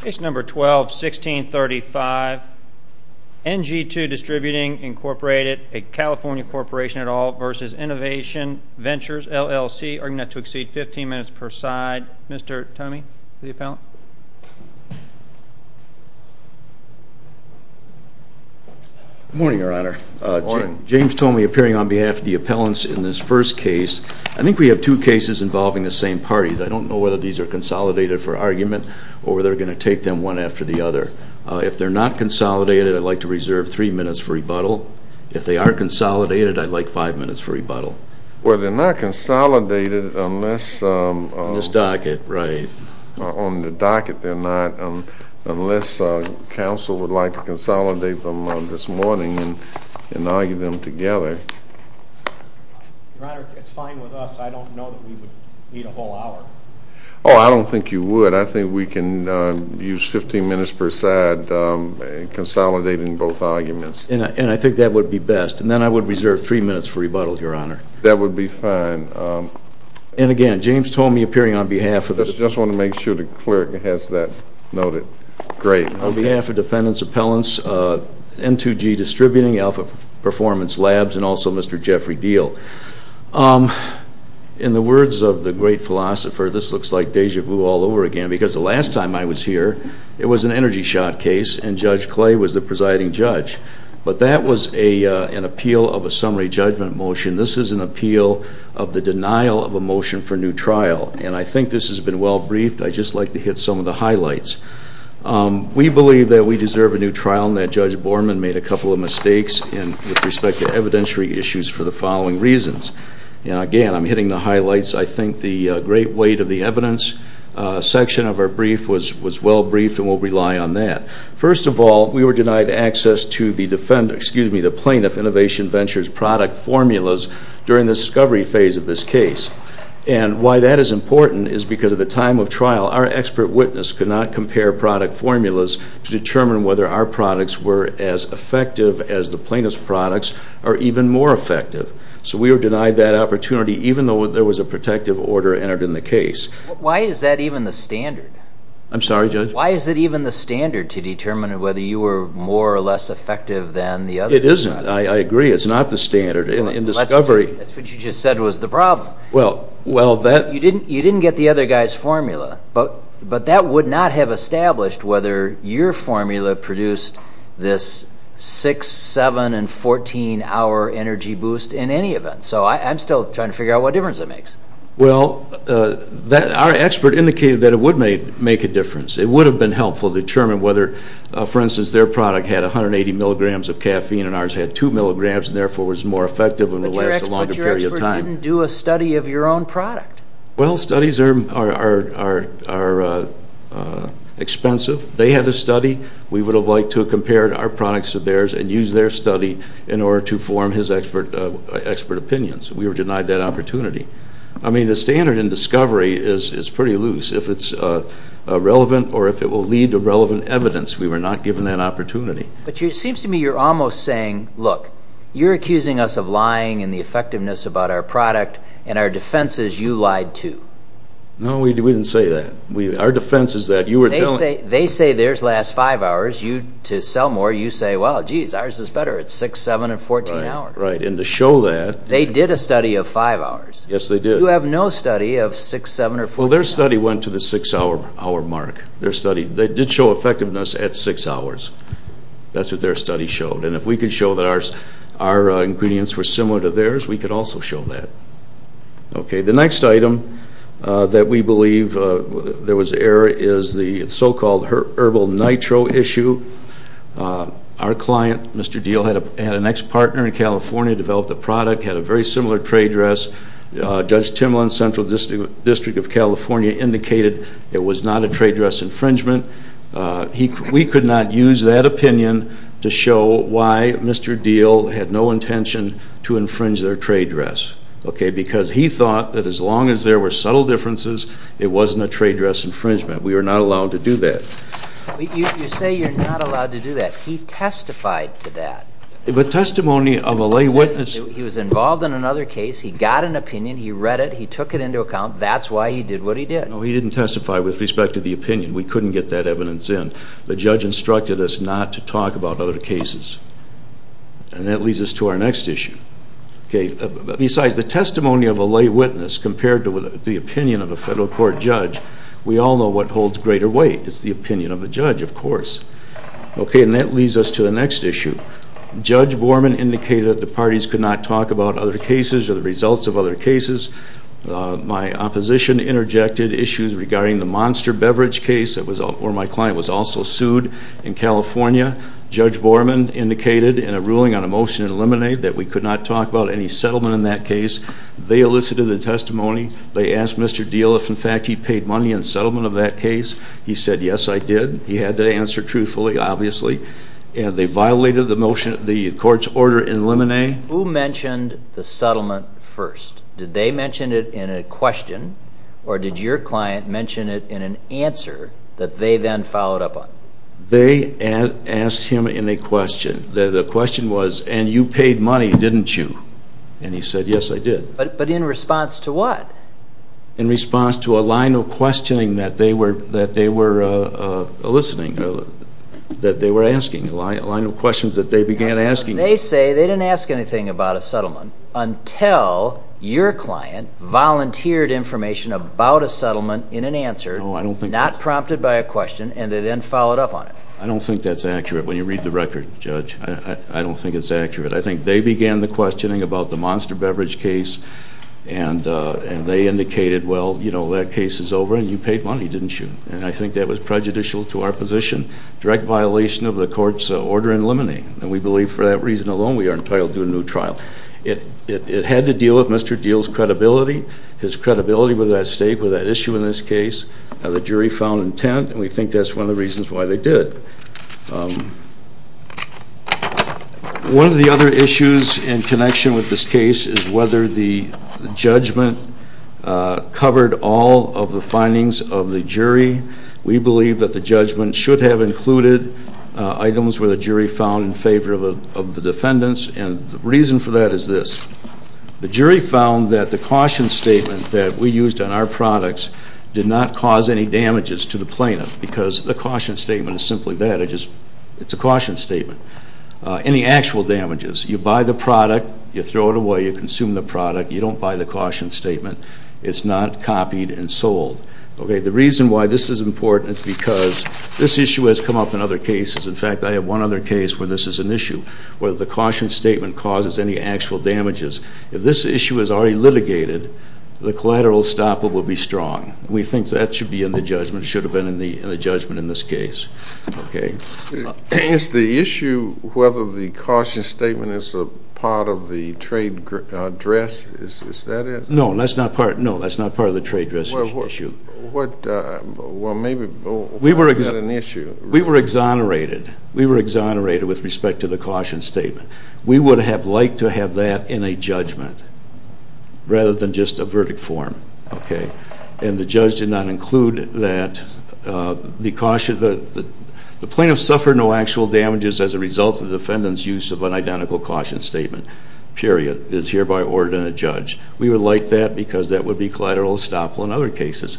Case number 12-1635, NG2 Distributing Incorporated, a California corporation at all, versus Innovation Ventures, LLC. Arguing not to exceed 15 minutes per side. Mr. Tomey, the appellant. Good morning, Your Honor. James Tomey appearing on behalf of the appellants in this first case. I think we have two cases involving the same or they're going to take them one after the other. If they're not consolidated, I'd like to reserve three minutes for rebuttal. If they are consolidated, I'd like five minutes for rebuttal. Well, they're not consolidated unless, on this docket, right, on the docket they're not, unless counsel would like to consolidate them this morning and argue them together. Your Honor, if it's fine with us, I don't know that we would need a whole hour. Oh, I don't think you would. I think we can use 15 minutes per side consolidating both arguments. And I think that would be best. And then I would reserve three minutes for rebuttal, Your Honor. That would be fine. And again, James Tomey appearing on behalf of the. I just want to make sure the clerk has that noted. Great. On behalf of defendants, appellants, N2G Distributing, Alpha Performance Labs, and also Mr. Jeffrey Deal. In the words of the great philosopher, this looks like deja vu all over again because the last time I was here, it was an energy shot case and Judge Clay was the presiding judge. But that was an appeal of a summary judgment motion. This is an appeal of the denial of a motion for new trial. And I think this has been well briefed. I'd just like to hit some of the highlights. We believe that we deserve a new trial and that with respect to evidentiary issues for the following reasons. And again, I'm hitting the highlights. I think the great weight of the evidence section of our brief was well briefed and we'll rely on that. First of all, we were denied access to the defendant, excuse me, the plaintiff Innovation Ventures product formulas during the discovery phase of this case. And why that is important is because at the time of trial, our expert witness could not compare product formulas to determine whether our products were as effective as the defendant's products or even more effective. So we were denied that opportunity even though there was a protective order entered in the case. Why is that even the standard? I'm sorry, Judge? Why is it even the standard to determine whether you were more or less effective than the other? It isn't. I agree. It's not the standard in discovery. That's what you just said was the problem. Well, that... You didn't get the other guy's formula, but that would not have established whether your formula produced this 6, 7, and 14 hour energy boost in any event. So I'm still trying to figure out what difference it makes. Well, our expert indicated that it would make a difference. It would have been helpful to determine whether, for instance, their product had 180 milligrams of caffeine and ours had 2 milligrams and therefore was more effective and would last a longer period of time. But your expert didn't do a study of your own product. Well, studies are expensive. They had a study. We would have liked to have compared our products to theirs and used their study in order to form his expert opinions. We were denied that opportunity. I mean, the standard in discovery is pretty loose. If it's relevant or if it will lead to relevant evidence, we were not given that opportunity. But it seems to me you're almost saying, look, you're accusing us of lying in the effectiveness about our product and our defense is you lied too. No, we didn't say that. Our defense is that you were just... They say theirs last 5 hours. You, to sell more, you say, well, geez, ours is better at 6, 7, and 14 hours. Right, and to show that... They did a study of 5 hours. Yes, they did. You have no study of 6, 7, or 14 hours. Well, their study went to the 6 hour mark. Their study, they did show effectiveness at 6 hours. That's what their study showed. And if we could show that our ingredients were similar to theirs, we could also show that. Okay, the next item that we believe there was error is the so-called herbal nitro issue. Our client, Mr. Diehl, had an ex-partner in California, developed a product, had a very similar trade dress. Judge Timlin, Central District of California, indicated it was not a trade dress infringement. We could not use that opinion to show why Mr. Diehl had no to do that. You say you're not allowed to do that. He testified to that. But testimony of a lay witness... He was involved in another case, he got an opinion, he read it, he took it into account, that's why he did what he did. No, he didn't testify with respect to the opinion. We couldn't get that evidence in. The judge instructed us not to talk about other cases. And that leads us to our next issue. Okay, the next item is the testimony of a lay witness compared to the opinion of a federal court judge. We all know what holds greater weight. It's the opinion of the judge, of course. Okay, and that leads us to the next issue. Judge Borman indicated that the parties could not talk about other cases or the results of other cases. My opposition interjected issues regarding the Monster Beverage case that was... where my client was also sued in California. Judge Borman indicated in a ruling on a motion to settlement in that case, they elicited the testimony, they asked Mr. Diehl if, in fact, he paid money in settlement of that case. He said, yes, I did. He had to answer truthfully, obviously. And they violated the motion, the court's order in Lemonnet. Who mentioned the settlement first? Did they mention it in a question or did your client mention it in an answer that they then followed up on? They asked him in a question. The question was, and you paid money, didn't you? And he said, yes, I did. But in response to what? In response to a line of questioning that they were eliciting, that they were asking, a line of questions that they began asking. They say they didn't ask anything about a settlement until your client volunteered information about a settlement in an answer, not prompted by a question, and they then followed up on it. I don't think that's accurate. When you read the record, Judge, I don't think it's accurate. I think they began the questioning about the Monster Beverage case and they indicated, well, you know, that case is over and you paid money, didn't you? And I think that was prejudicial to our position. Direct violation of the court's order in Lemonnet. And we believe for that reason alone we are entitled to a new trial. It had to deal with Mr. Diehl's credibility, his credibility with that state, with that issue in this case. Now I don't know why they did. One of the other issues in connection with this case is whether the judgment covered all of the findings of the jury. We believe that the judgment should have included items where the jury found in favor of the defendants. And the reason for that is this. The jury found that the caution statement that we used on our products did not cause any damages to the product. The caution statement is simply that. It's a caution statement. Any actual damages. You buy the product, you throw it away, you consume the product, you don't buy the caution statement. It's not copied and sold. Okay, the reason why this is important is because this issue has come up in other cases. In fact, I have one other case where this is an issue where the caution statement causes any actual damages. If this issue is already litigated, the collateral stopper will be strong. We think that should be in the judgment, should have been in the judgment. Okay. Is the issue whether the caution statement is a part of the trade dress, is that it? No, that's not part, no, that's not part of the trade dress issue. What, well maybe, we were, is that an issue? We were exonerated. We were exonerated with respect to the caution statement. We would have liked to have that in a judgment rather than just a verdict form. Okay, and the judge did not the plaintiff suffered no actual damages as a result of the defendant's use of an identical caution statement, period. It is hereby ordered in a judge. We would like that because that would be collateral estoppel in other cases.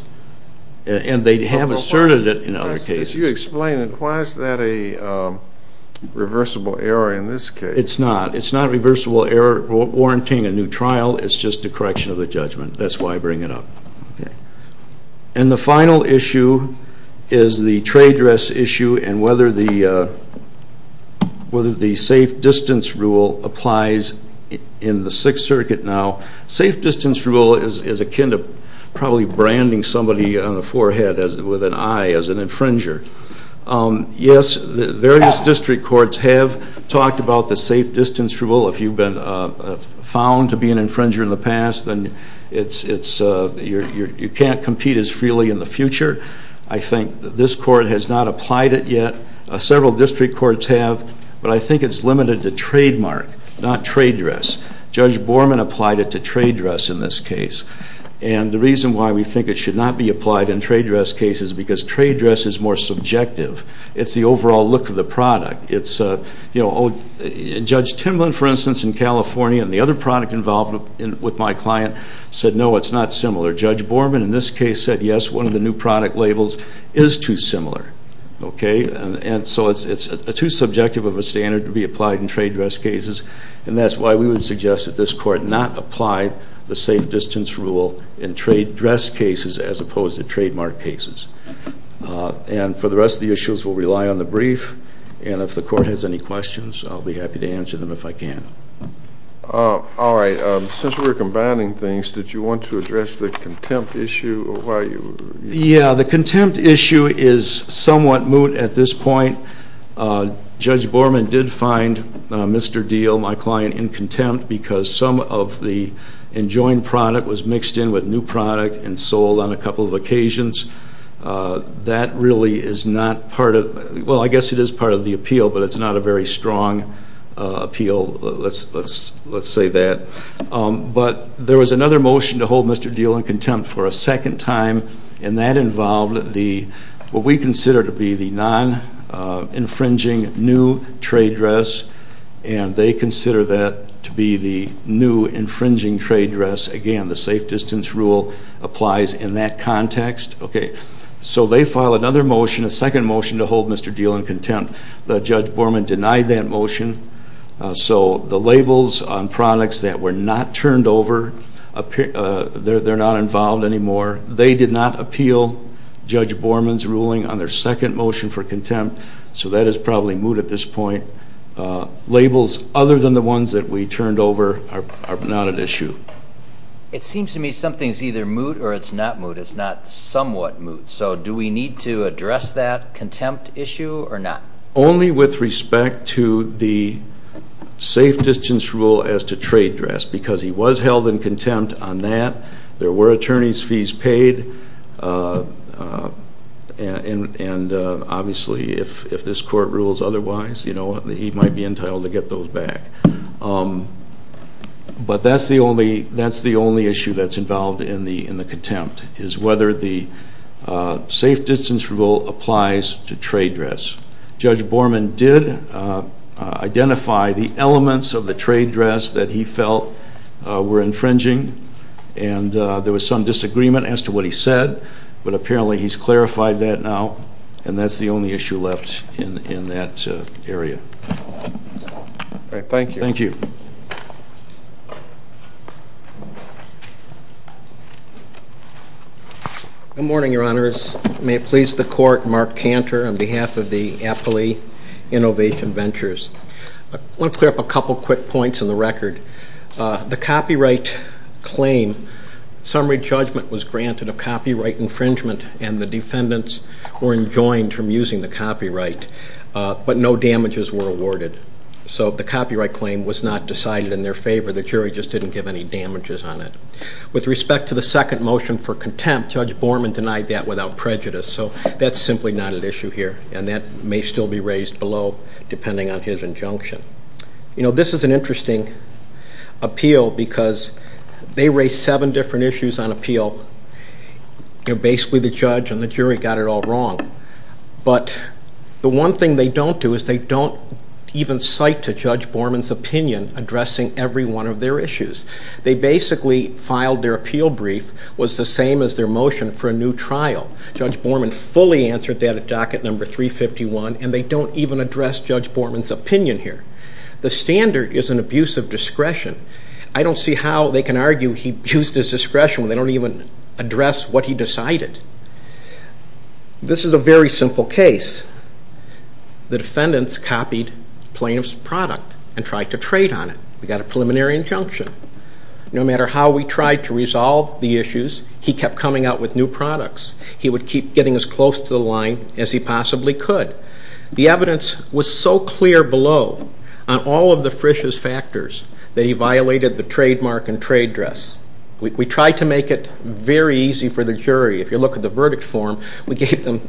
And they have asserted it in other cases. Can you explain it? Why is that a reversible error in this case? It's not. It's not a reversible error warranting a new trial. It's just a correction of the judgment. That's why I bring it up. Okay, and the final issue is the trade dress issue and whether the, whether the safe distance rule applies in the Sixth Circuit now. Safe distance rule is akin to probably branding somebody on the forehead as, with an eye, as an infringer. Yes, the various district courts have talked about the safe distance rule. If you've been found to be an infringer in the past, then it's, it's, you can't compete as freely in the case. This court has not applied it yet. Several district courts have, but I think it's limited to trademark, not trade dress. Judge Borman applied it to trade dress in this case. And the reason why we think it should not be applied in trade dress cases is because trade dress is more subjective. It's the overall look of the product. It's, you know, Judge Timlin, for instance, in California, and the other product involved with my client, said no, it's not similar. Judge Borman, in this case, said yes, one of the new product labels is too similar. Okay, and so it's, it's too subjective of a standard to be applied in trade dress cases, and that's why we would suggest that this court not apply the safe distance rule in trade dress cases as opposed to trademark cases. And for the rest of the issues, we'll rely on the brief, and if the court has any questions, I'll be happy to answer them if I can. All right, since we're combining things, did you want to address the contempt issue? Yeah, the contempt issue is somewhat moot at this point. Judge Borman did find Mr. Diehl, my client, in contempt because some of the enjoined product was mixed in with new product and sold on a couple of occasions. That really is not part of, well, I guess it is part of the appeal, but it's not a very strong appeal, let's, let's, let's say that. But there was another motion to hold Mr. Diehl in contempt for a second time, and that involved the, what we consider to be the non-infringing new trade dress, and they consider that to be the new infringing trade dress. Again, the safe distance rule applies in that context. Okay, so they file another motion, a second motion, to hold Mr. Diehl in contempt. The judge Borman denied that motion, so the labels on products that were not turned over, they're not involved anymore, they did not appeal Judge Borman's ruling on their second motion for contempt, so that is probably moot at this point. Labels other than the ones that we turned over are not an issue. It seems to me something's either moot or it's not moot, it's not somewhat moot, so do we need to address that contempt issue or not? Only with respect to the safe distance rule as to trade dress, because he was held in contempt on that, there were attorney's fees paid, and, and obviously if, if this court rules otherwise, you know, he might be entitled to get those back. But that's the only, that's the only issue that's involved in the, in the contempt, is whether the safe distance rule applies to trade dress. Judge Borman did identify the elements of the trade dress that he felt were infringing, and there was some disagreement as to what he said, but apparently he's clarified that now, and that's the only issue left in, in that area. All right, thank you. Thank you. Good morning, your honors. May it please the court, Mark Cantor on behalf of the Appley Innovation Ventures. I want to clear up a couple quick points on the record. The copyright claim, summary judgment was granted a copyright infringement, and the defendants were enjoined from using the copyright, but no damages were awarded. So the copyright claim was not decided in their favor, the jury just didn't give any damages on it. With respect to the second motion for contempt, Judge Borman denied that without prejudice, so that's simply not an issue here, and that may still be raised below depending on his injunction. You know, this is an interesting appeal because they raised seven different issues on appeal, you know, basically the judge and the jury got it all wrong, but the one thing they don't do is they don't even cite to Judge Borman's opinion addressing every one of their issues. They basically filed their appeal brief was the same as their motion for a new trial. Judge Borman fully answered that at docket number 351, and they don't even address Judge Borman's opinion here. The standard is an abuse of discretion. I don't see how they can argue he abused his discretion when they don't even address what he decided. This is a very simple case. The defendants copied plaintiff's product and tried to trade on it. We got a preliminary injunction. No matter how we tried to resolve the issues, he kept coming out with new products. He would keep getting as close to the line as he possibly could. The evidence was so clear below on all of the Frisch's factors that he violated the trademark and trade dress. We tried to make it very easy for the jury. If you look at the verdict form, we gave them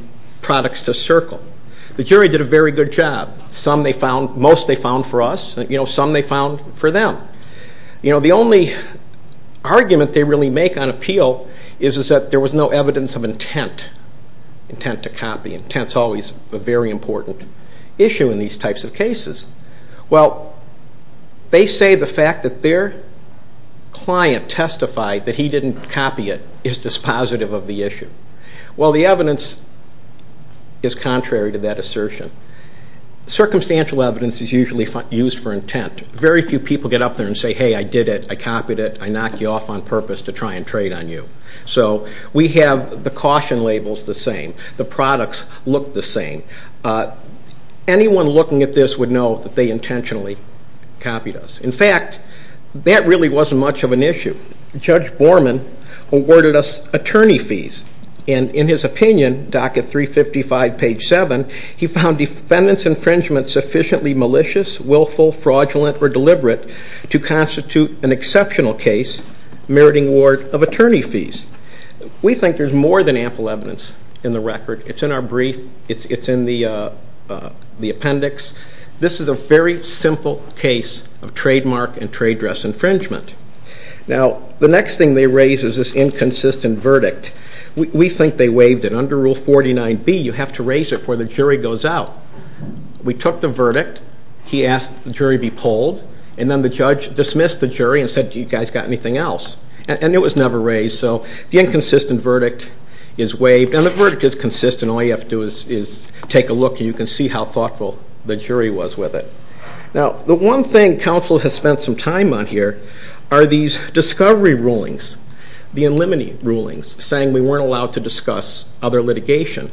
products to circle. The jury did a very good job. Some they found, most they found for us, you know, some they found for them. You know, the only argument they really make on appeal is that there was no evidence of intent, intent to copy. Intent's always a very important issue in these types of cases. Well, they say the fact that their client testified that he didn't copy it is dispositive of the issue. Well, the evidence is contrary to that assertion. Circumstantial evidence is usually used for intent. Very few people get up there and say, hey, I did it. I copied it. I knocked you off on purpose to try and trade on you. So we have the caution labels the same. The products look the same. Anyone looking at this would know that they intentionally copied us. In fact, that really wasn't much of an issue. Judge Borman awarded us attorney fees and in his opinion, docket 355 page 7, he deliberate to constitute an exceptional case meriting award of attorney fees. We think there's more than ample evidence in the record. It's in our brief. It's in the appendix. This is a very simple case of trademark and trade dress infringement. Now, the next thing they raise is this inconsistent verdict. We think they waived it. Under Rule 49B, you have to raise it before the jury goes out. We took the verdict. He asked the jury to be polled and then the judge dismissed the jury and said, do you guys got anything else? And it was never raised. So the inconsistent verdict is waived and the verdict is consistent. All you have to do is take a look and you can see how thoughtful the jury was with it. Now, the one thing counsel has spent some time on here are these discovery rulings, the unlimited rulings saying we weren't allowed to discuss other litigation.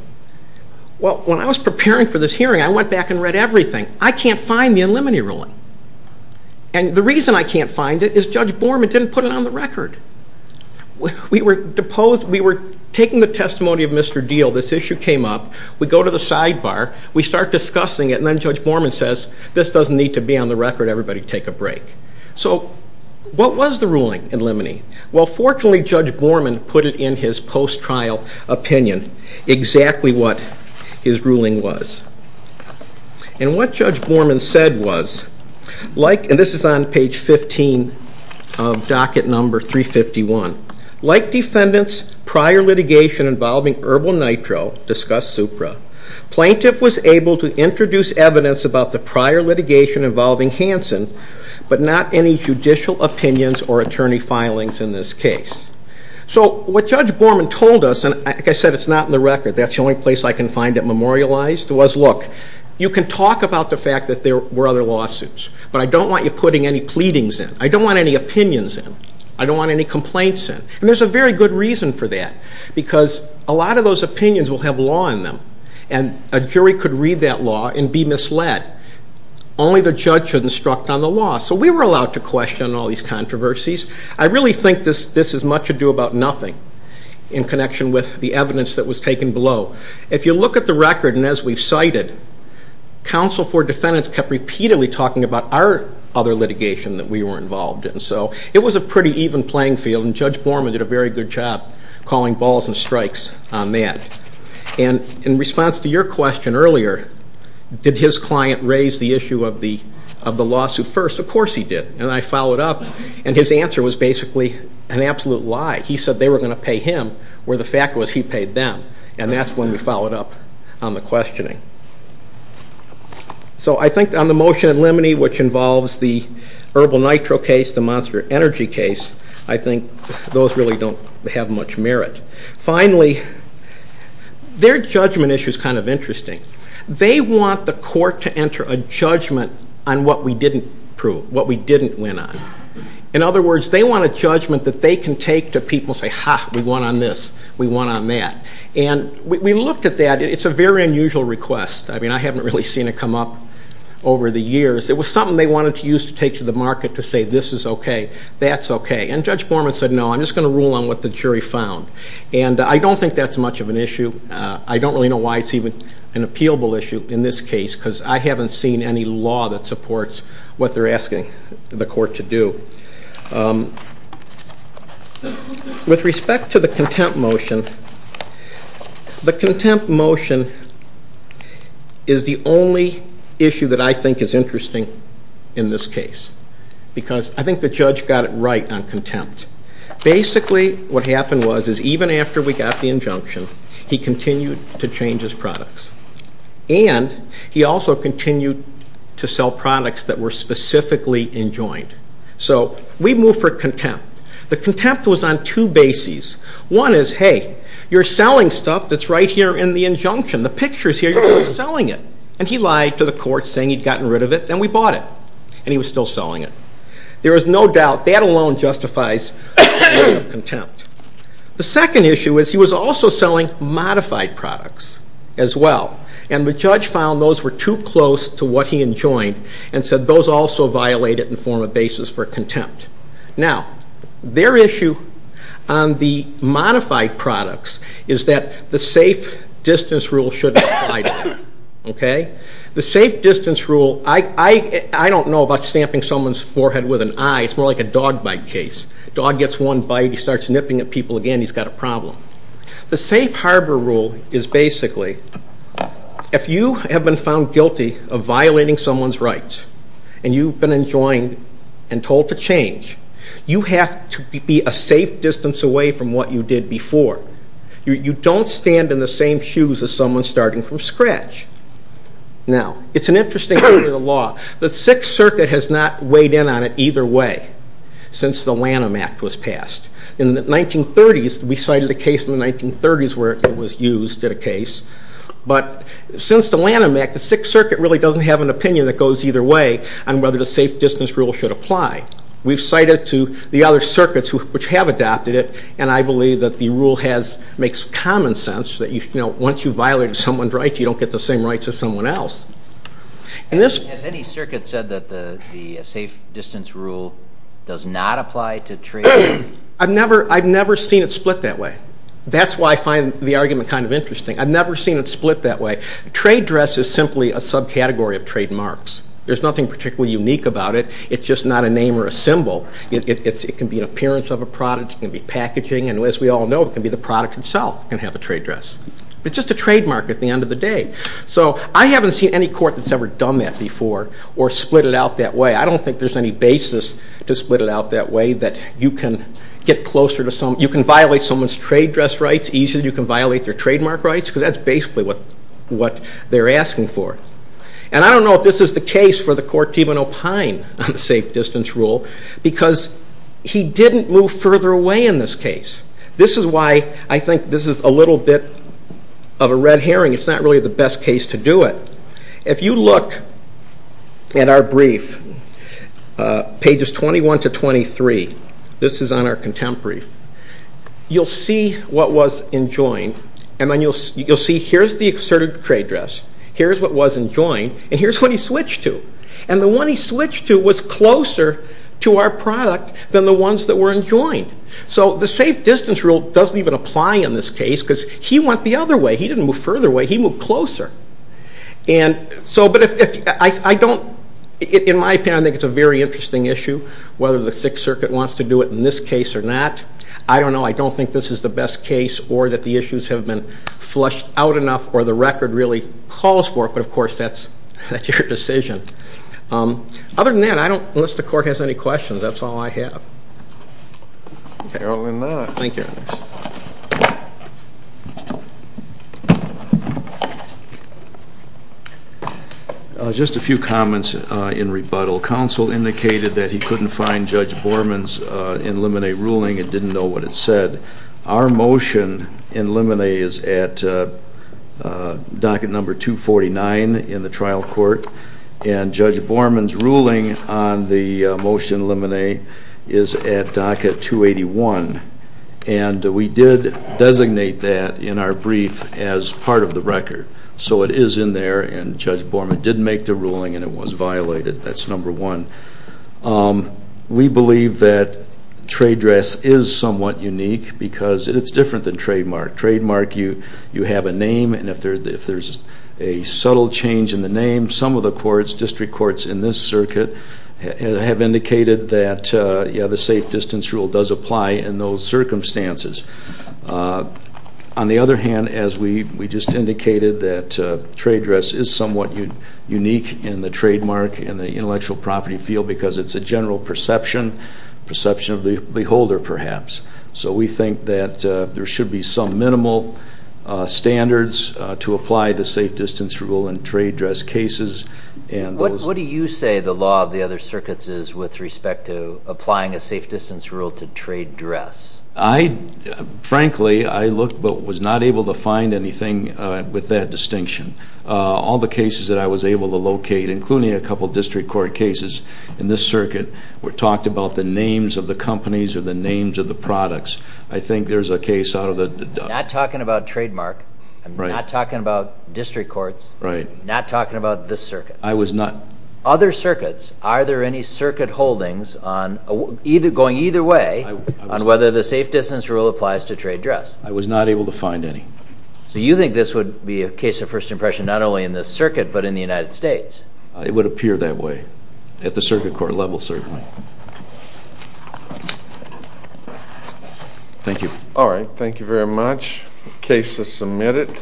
Well, when I was preparing for this hearing, I went back and read everything. I can't find the unlimited ruling and the reason I can't find it is Judge Borman didn't put it on the record. We were deposed, we were taking the testimony of Mr. Deal. This issue came up. We go to the sidebar. We start discussing it and then Judge Borman says, this doesn't need to be on the record. Everybody take a break. So what was the ruling unlimited? Well, this is his opinion, exactly what his ruling was. And what Judge Borman said was, like, and this is on page 15 of docket number 351, like defendants prior litigation involving Herbal Nitro discussed Supra, plaintiff was able to introduce evidence about the prior litigation involving Hanson but not any judicial opinions or attorney filings in this case. So what Judge Borman told us, like I said, it's not in the record. That's the only place I can find it memorialized was, look, you can talk about the fact that there were other lawsuits but I don't want you putting any pleadings in. I don't want any opinions in. I don't want any complaints in. And there's a very good reason for that because a lot of those opinions will have law in them and a jury could read that law and be misled. Only the judge should instruct on the law. So we were allowed to question all these controversies. I really think this is much ado about nothing in connection with the evidence that was taken below. If you look at the record and as we've cited, counsel for defendants kept repeatedly talking about our other litigation that we were involved in. So it was a pretty even playing field and Judge Borman did a very good job calling balls and strikes on that. And in response to your question earlier, did his client raise the issue of the of the lawsuit first? Of course he did. And I think his answer was basically an absolute lie. He said they were gonna pay him where the fact was he paid them. And that's when we followed up on the questioning. So I think on the motion at Lemony which involves the herbal nitro case, the monster energy case, I think those really don't have much merit. Finally, their judgment issue is kind of interesting. They want the court to enter a judgment on what we didn't prove, what we didn't win on. In other words, they want a judgment that they can take to people say, ha, we won on this, we won on that. And we looked at that. It's a very unusual request. I mean, I haven't really seen it come up over the years. It was something they wanted to use to take to the market to say, this is okay, that's okay. And Judge Borman said, no, I'm just gonna rule on what the jury found. And I don't think that's much of an issue. I don't really know why it's even an appealable issue in this case because I haven't seen any law that supports what they're asking the court to do. With respect to the contempt motion, the contempt motion is the only issue that I think is interesting in this case because I think the judge got it right on contempt. Basically, what happened was is even after we got the injunction, he continued to change his products. And he also continued to sell products that were specifically enjoined. So we moved for contempt. The contempt was on two bases. One is, hey, you're selling stuff that's right here in the injunction. The picture's here, you're selling it. And he lied to the court saying he'd gotten rid of it and we bought it. And he was still selling it. There is no doubt, that alone justifies contempt. The second issue is he was also selling modified products as well. And the judge found those were too close to what he enjoined and said those also violate it in the form of basis for contempt. Now, their issue on the modified products is that the safe distance rule shouldn't apply to them. Okay? The safe distance rule, I don't know about stamping someone's forehead with an eye, it's more like a dog bite case. Dog gets one bite, he starts nipping at people again, he's got a problem. The safe harbor rule is basically, if you have been found guilty of violating someone's rights and you've been enjoined and told to change, you have to be a safe distance away from what you did before. You don't stand in the same shoes as someone starting from scratch. Now, it's an issue that's not weighed in on it either way since the Lanham Act was passed. In the 1930s, we cited a case in the 1930s where it was used in a case, but since the Lanham Act, the Sixth Circuit really doesn't have an opinion that goes either way on whether the safe distance rule should apply. We've cited to the other circuits which have adopted it and I believe that the rule has, makes common sense that you know, once you violate someone's rights, you don't get the same rights as someone else. Has any circuit said that the safe distance rule does not apply to trade? I've never, I've never seen it split that way. That's why I find the argument kind of interesting. I've never seen it split that way. Trade dress is simply a subcategory of trademarks. There's nothing particularly unique about it, it's just not a name or a symbol. It can be an appearance of a product, it can be packaging, and as we all know, it can be the product itself can have a trade dress. It's just a trademark at the end of the day. So I haven't seen any court that's ever done that before or split it out that way. I don't think there's any basis to split it out that way, that you can get closer to some, you can violate someone's trade dress rights easier than you can violate their trademark rights, because that's basically what, what they're asking for. And I don't know if this is the case for the Court Tivano-Pine on the safe distance rule, because he didn't move further away in this case. This is why I think this is a little bit of a red herring, it's not really the best case to do it. If you look at our brief, pages 21 to 23, this is on our contemporary, you'll see what was enjoined and then you'll see here's the asserted trade dress, here's what was enjoined, and here's what he switched to. And the one he switched to was closer to our product than the ones that were enjoined. So the safe distance rule doesn't even apply in this case, because he went the other way, he didn't move further away, he moved closer. And so, but if, I don't, in my opinion, I think it's a very interesting issue, whether the Sixth Circuit wants to do it in this case or not. I don't know, I don't think this is the best case or that the issues have been flushed out enough or the record really calls for it, but of course that's that's your decision. Other than that, I don't, unless the court has any questions, that's all I have. Apparently not. Thank you. Just a few comments in rebuttal. Counsel indicated that he couldn't find Judge Borman's in limine ruling and didn't know what it said. Our motion in limine is at docket number 249 in the trial court, and Judge Borman's ruling on the motion in limine is at docket 281, and we did designate that in our brief as part of the record. So it is in there, and Judge Borman didn't make the ruling and it was violated. That's number one. We believe that trade dress is somewhat unique because it's different than trademark. Trademark, you have a name, and if there's a subtle change in the name, some of the courts, district indicated that the safe distance rule does apply in those circumstances. On the other hand, as we just indicated, that trade dress is somewhat unique in the trademark and the intellectual property field because it's a general perception, perception of the beholder perhaps. So we think that there should be some minimal standards to apply the safe distance rule in trade dress cases. What do you say the law of the other circuits is with respect to applying a safe distance rule to trade dress? I, frankly, I looked but was not able to find anything with that distinction. All the cases that I was able to locate, including a couple district court cases in this circuit, were talked about the names of the companies or the names of the products. I think there's a case out of the... Not talking about trademark, not talking about district courts, not talking about this circuit. I was not... Other circuits, are there any circuit holdings on either going either way on whether the safe distance rule applies to trade dress? I was not able to find any. So you think this would be a case of first impression not only in this circuit but in the United States? It would appear that way at the circuit court level, certainly. Thank you. All right, thank you very much. Case is submitted.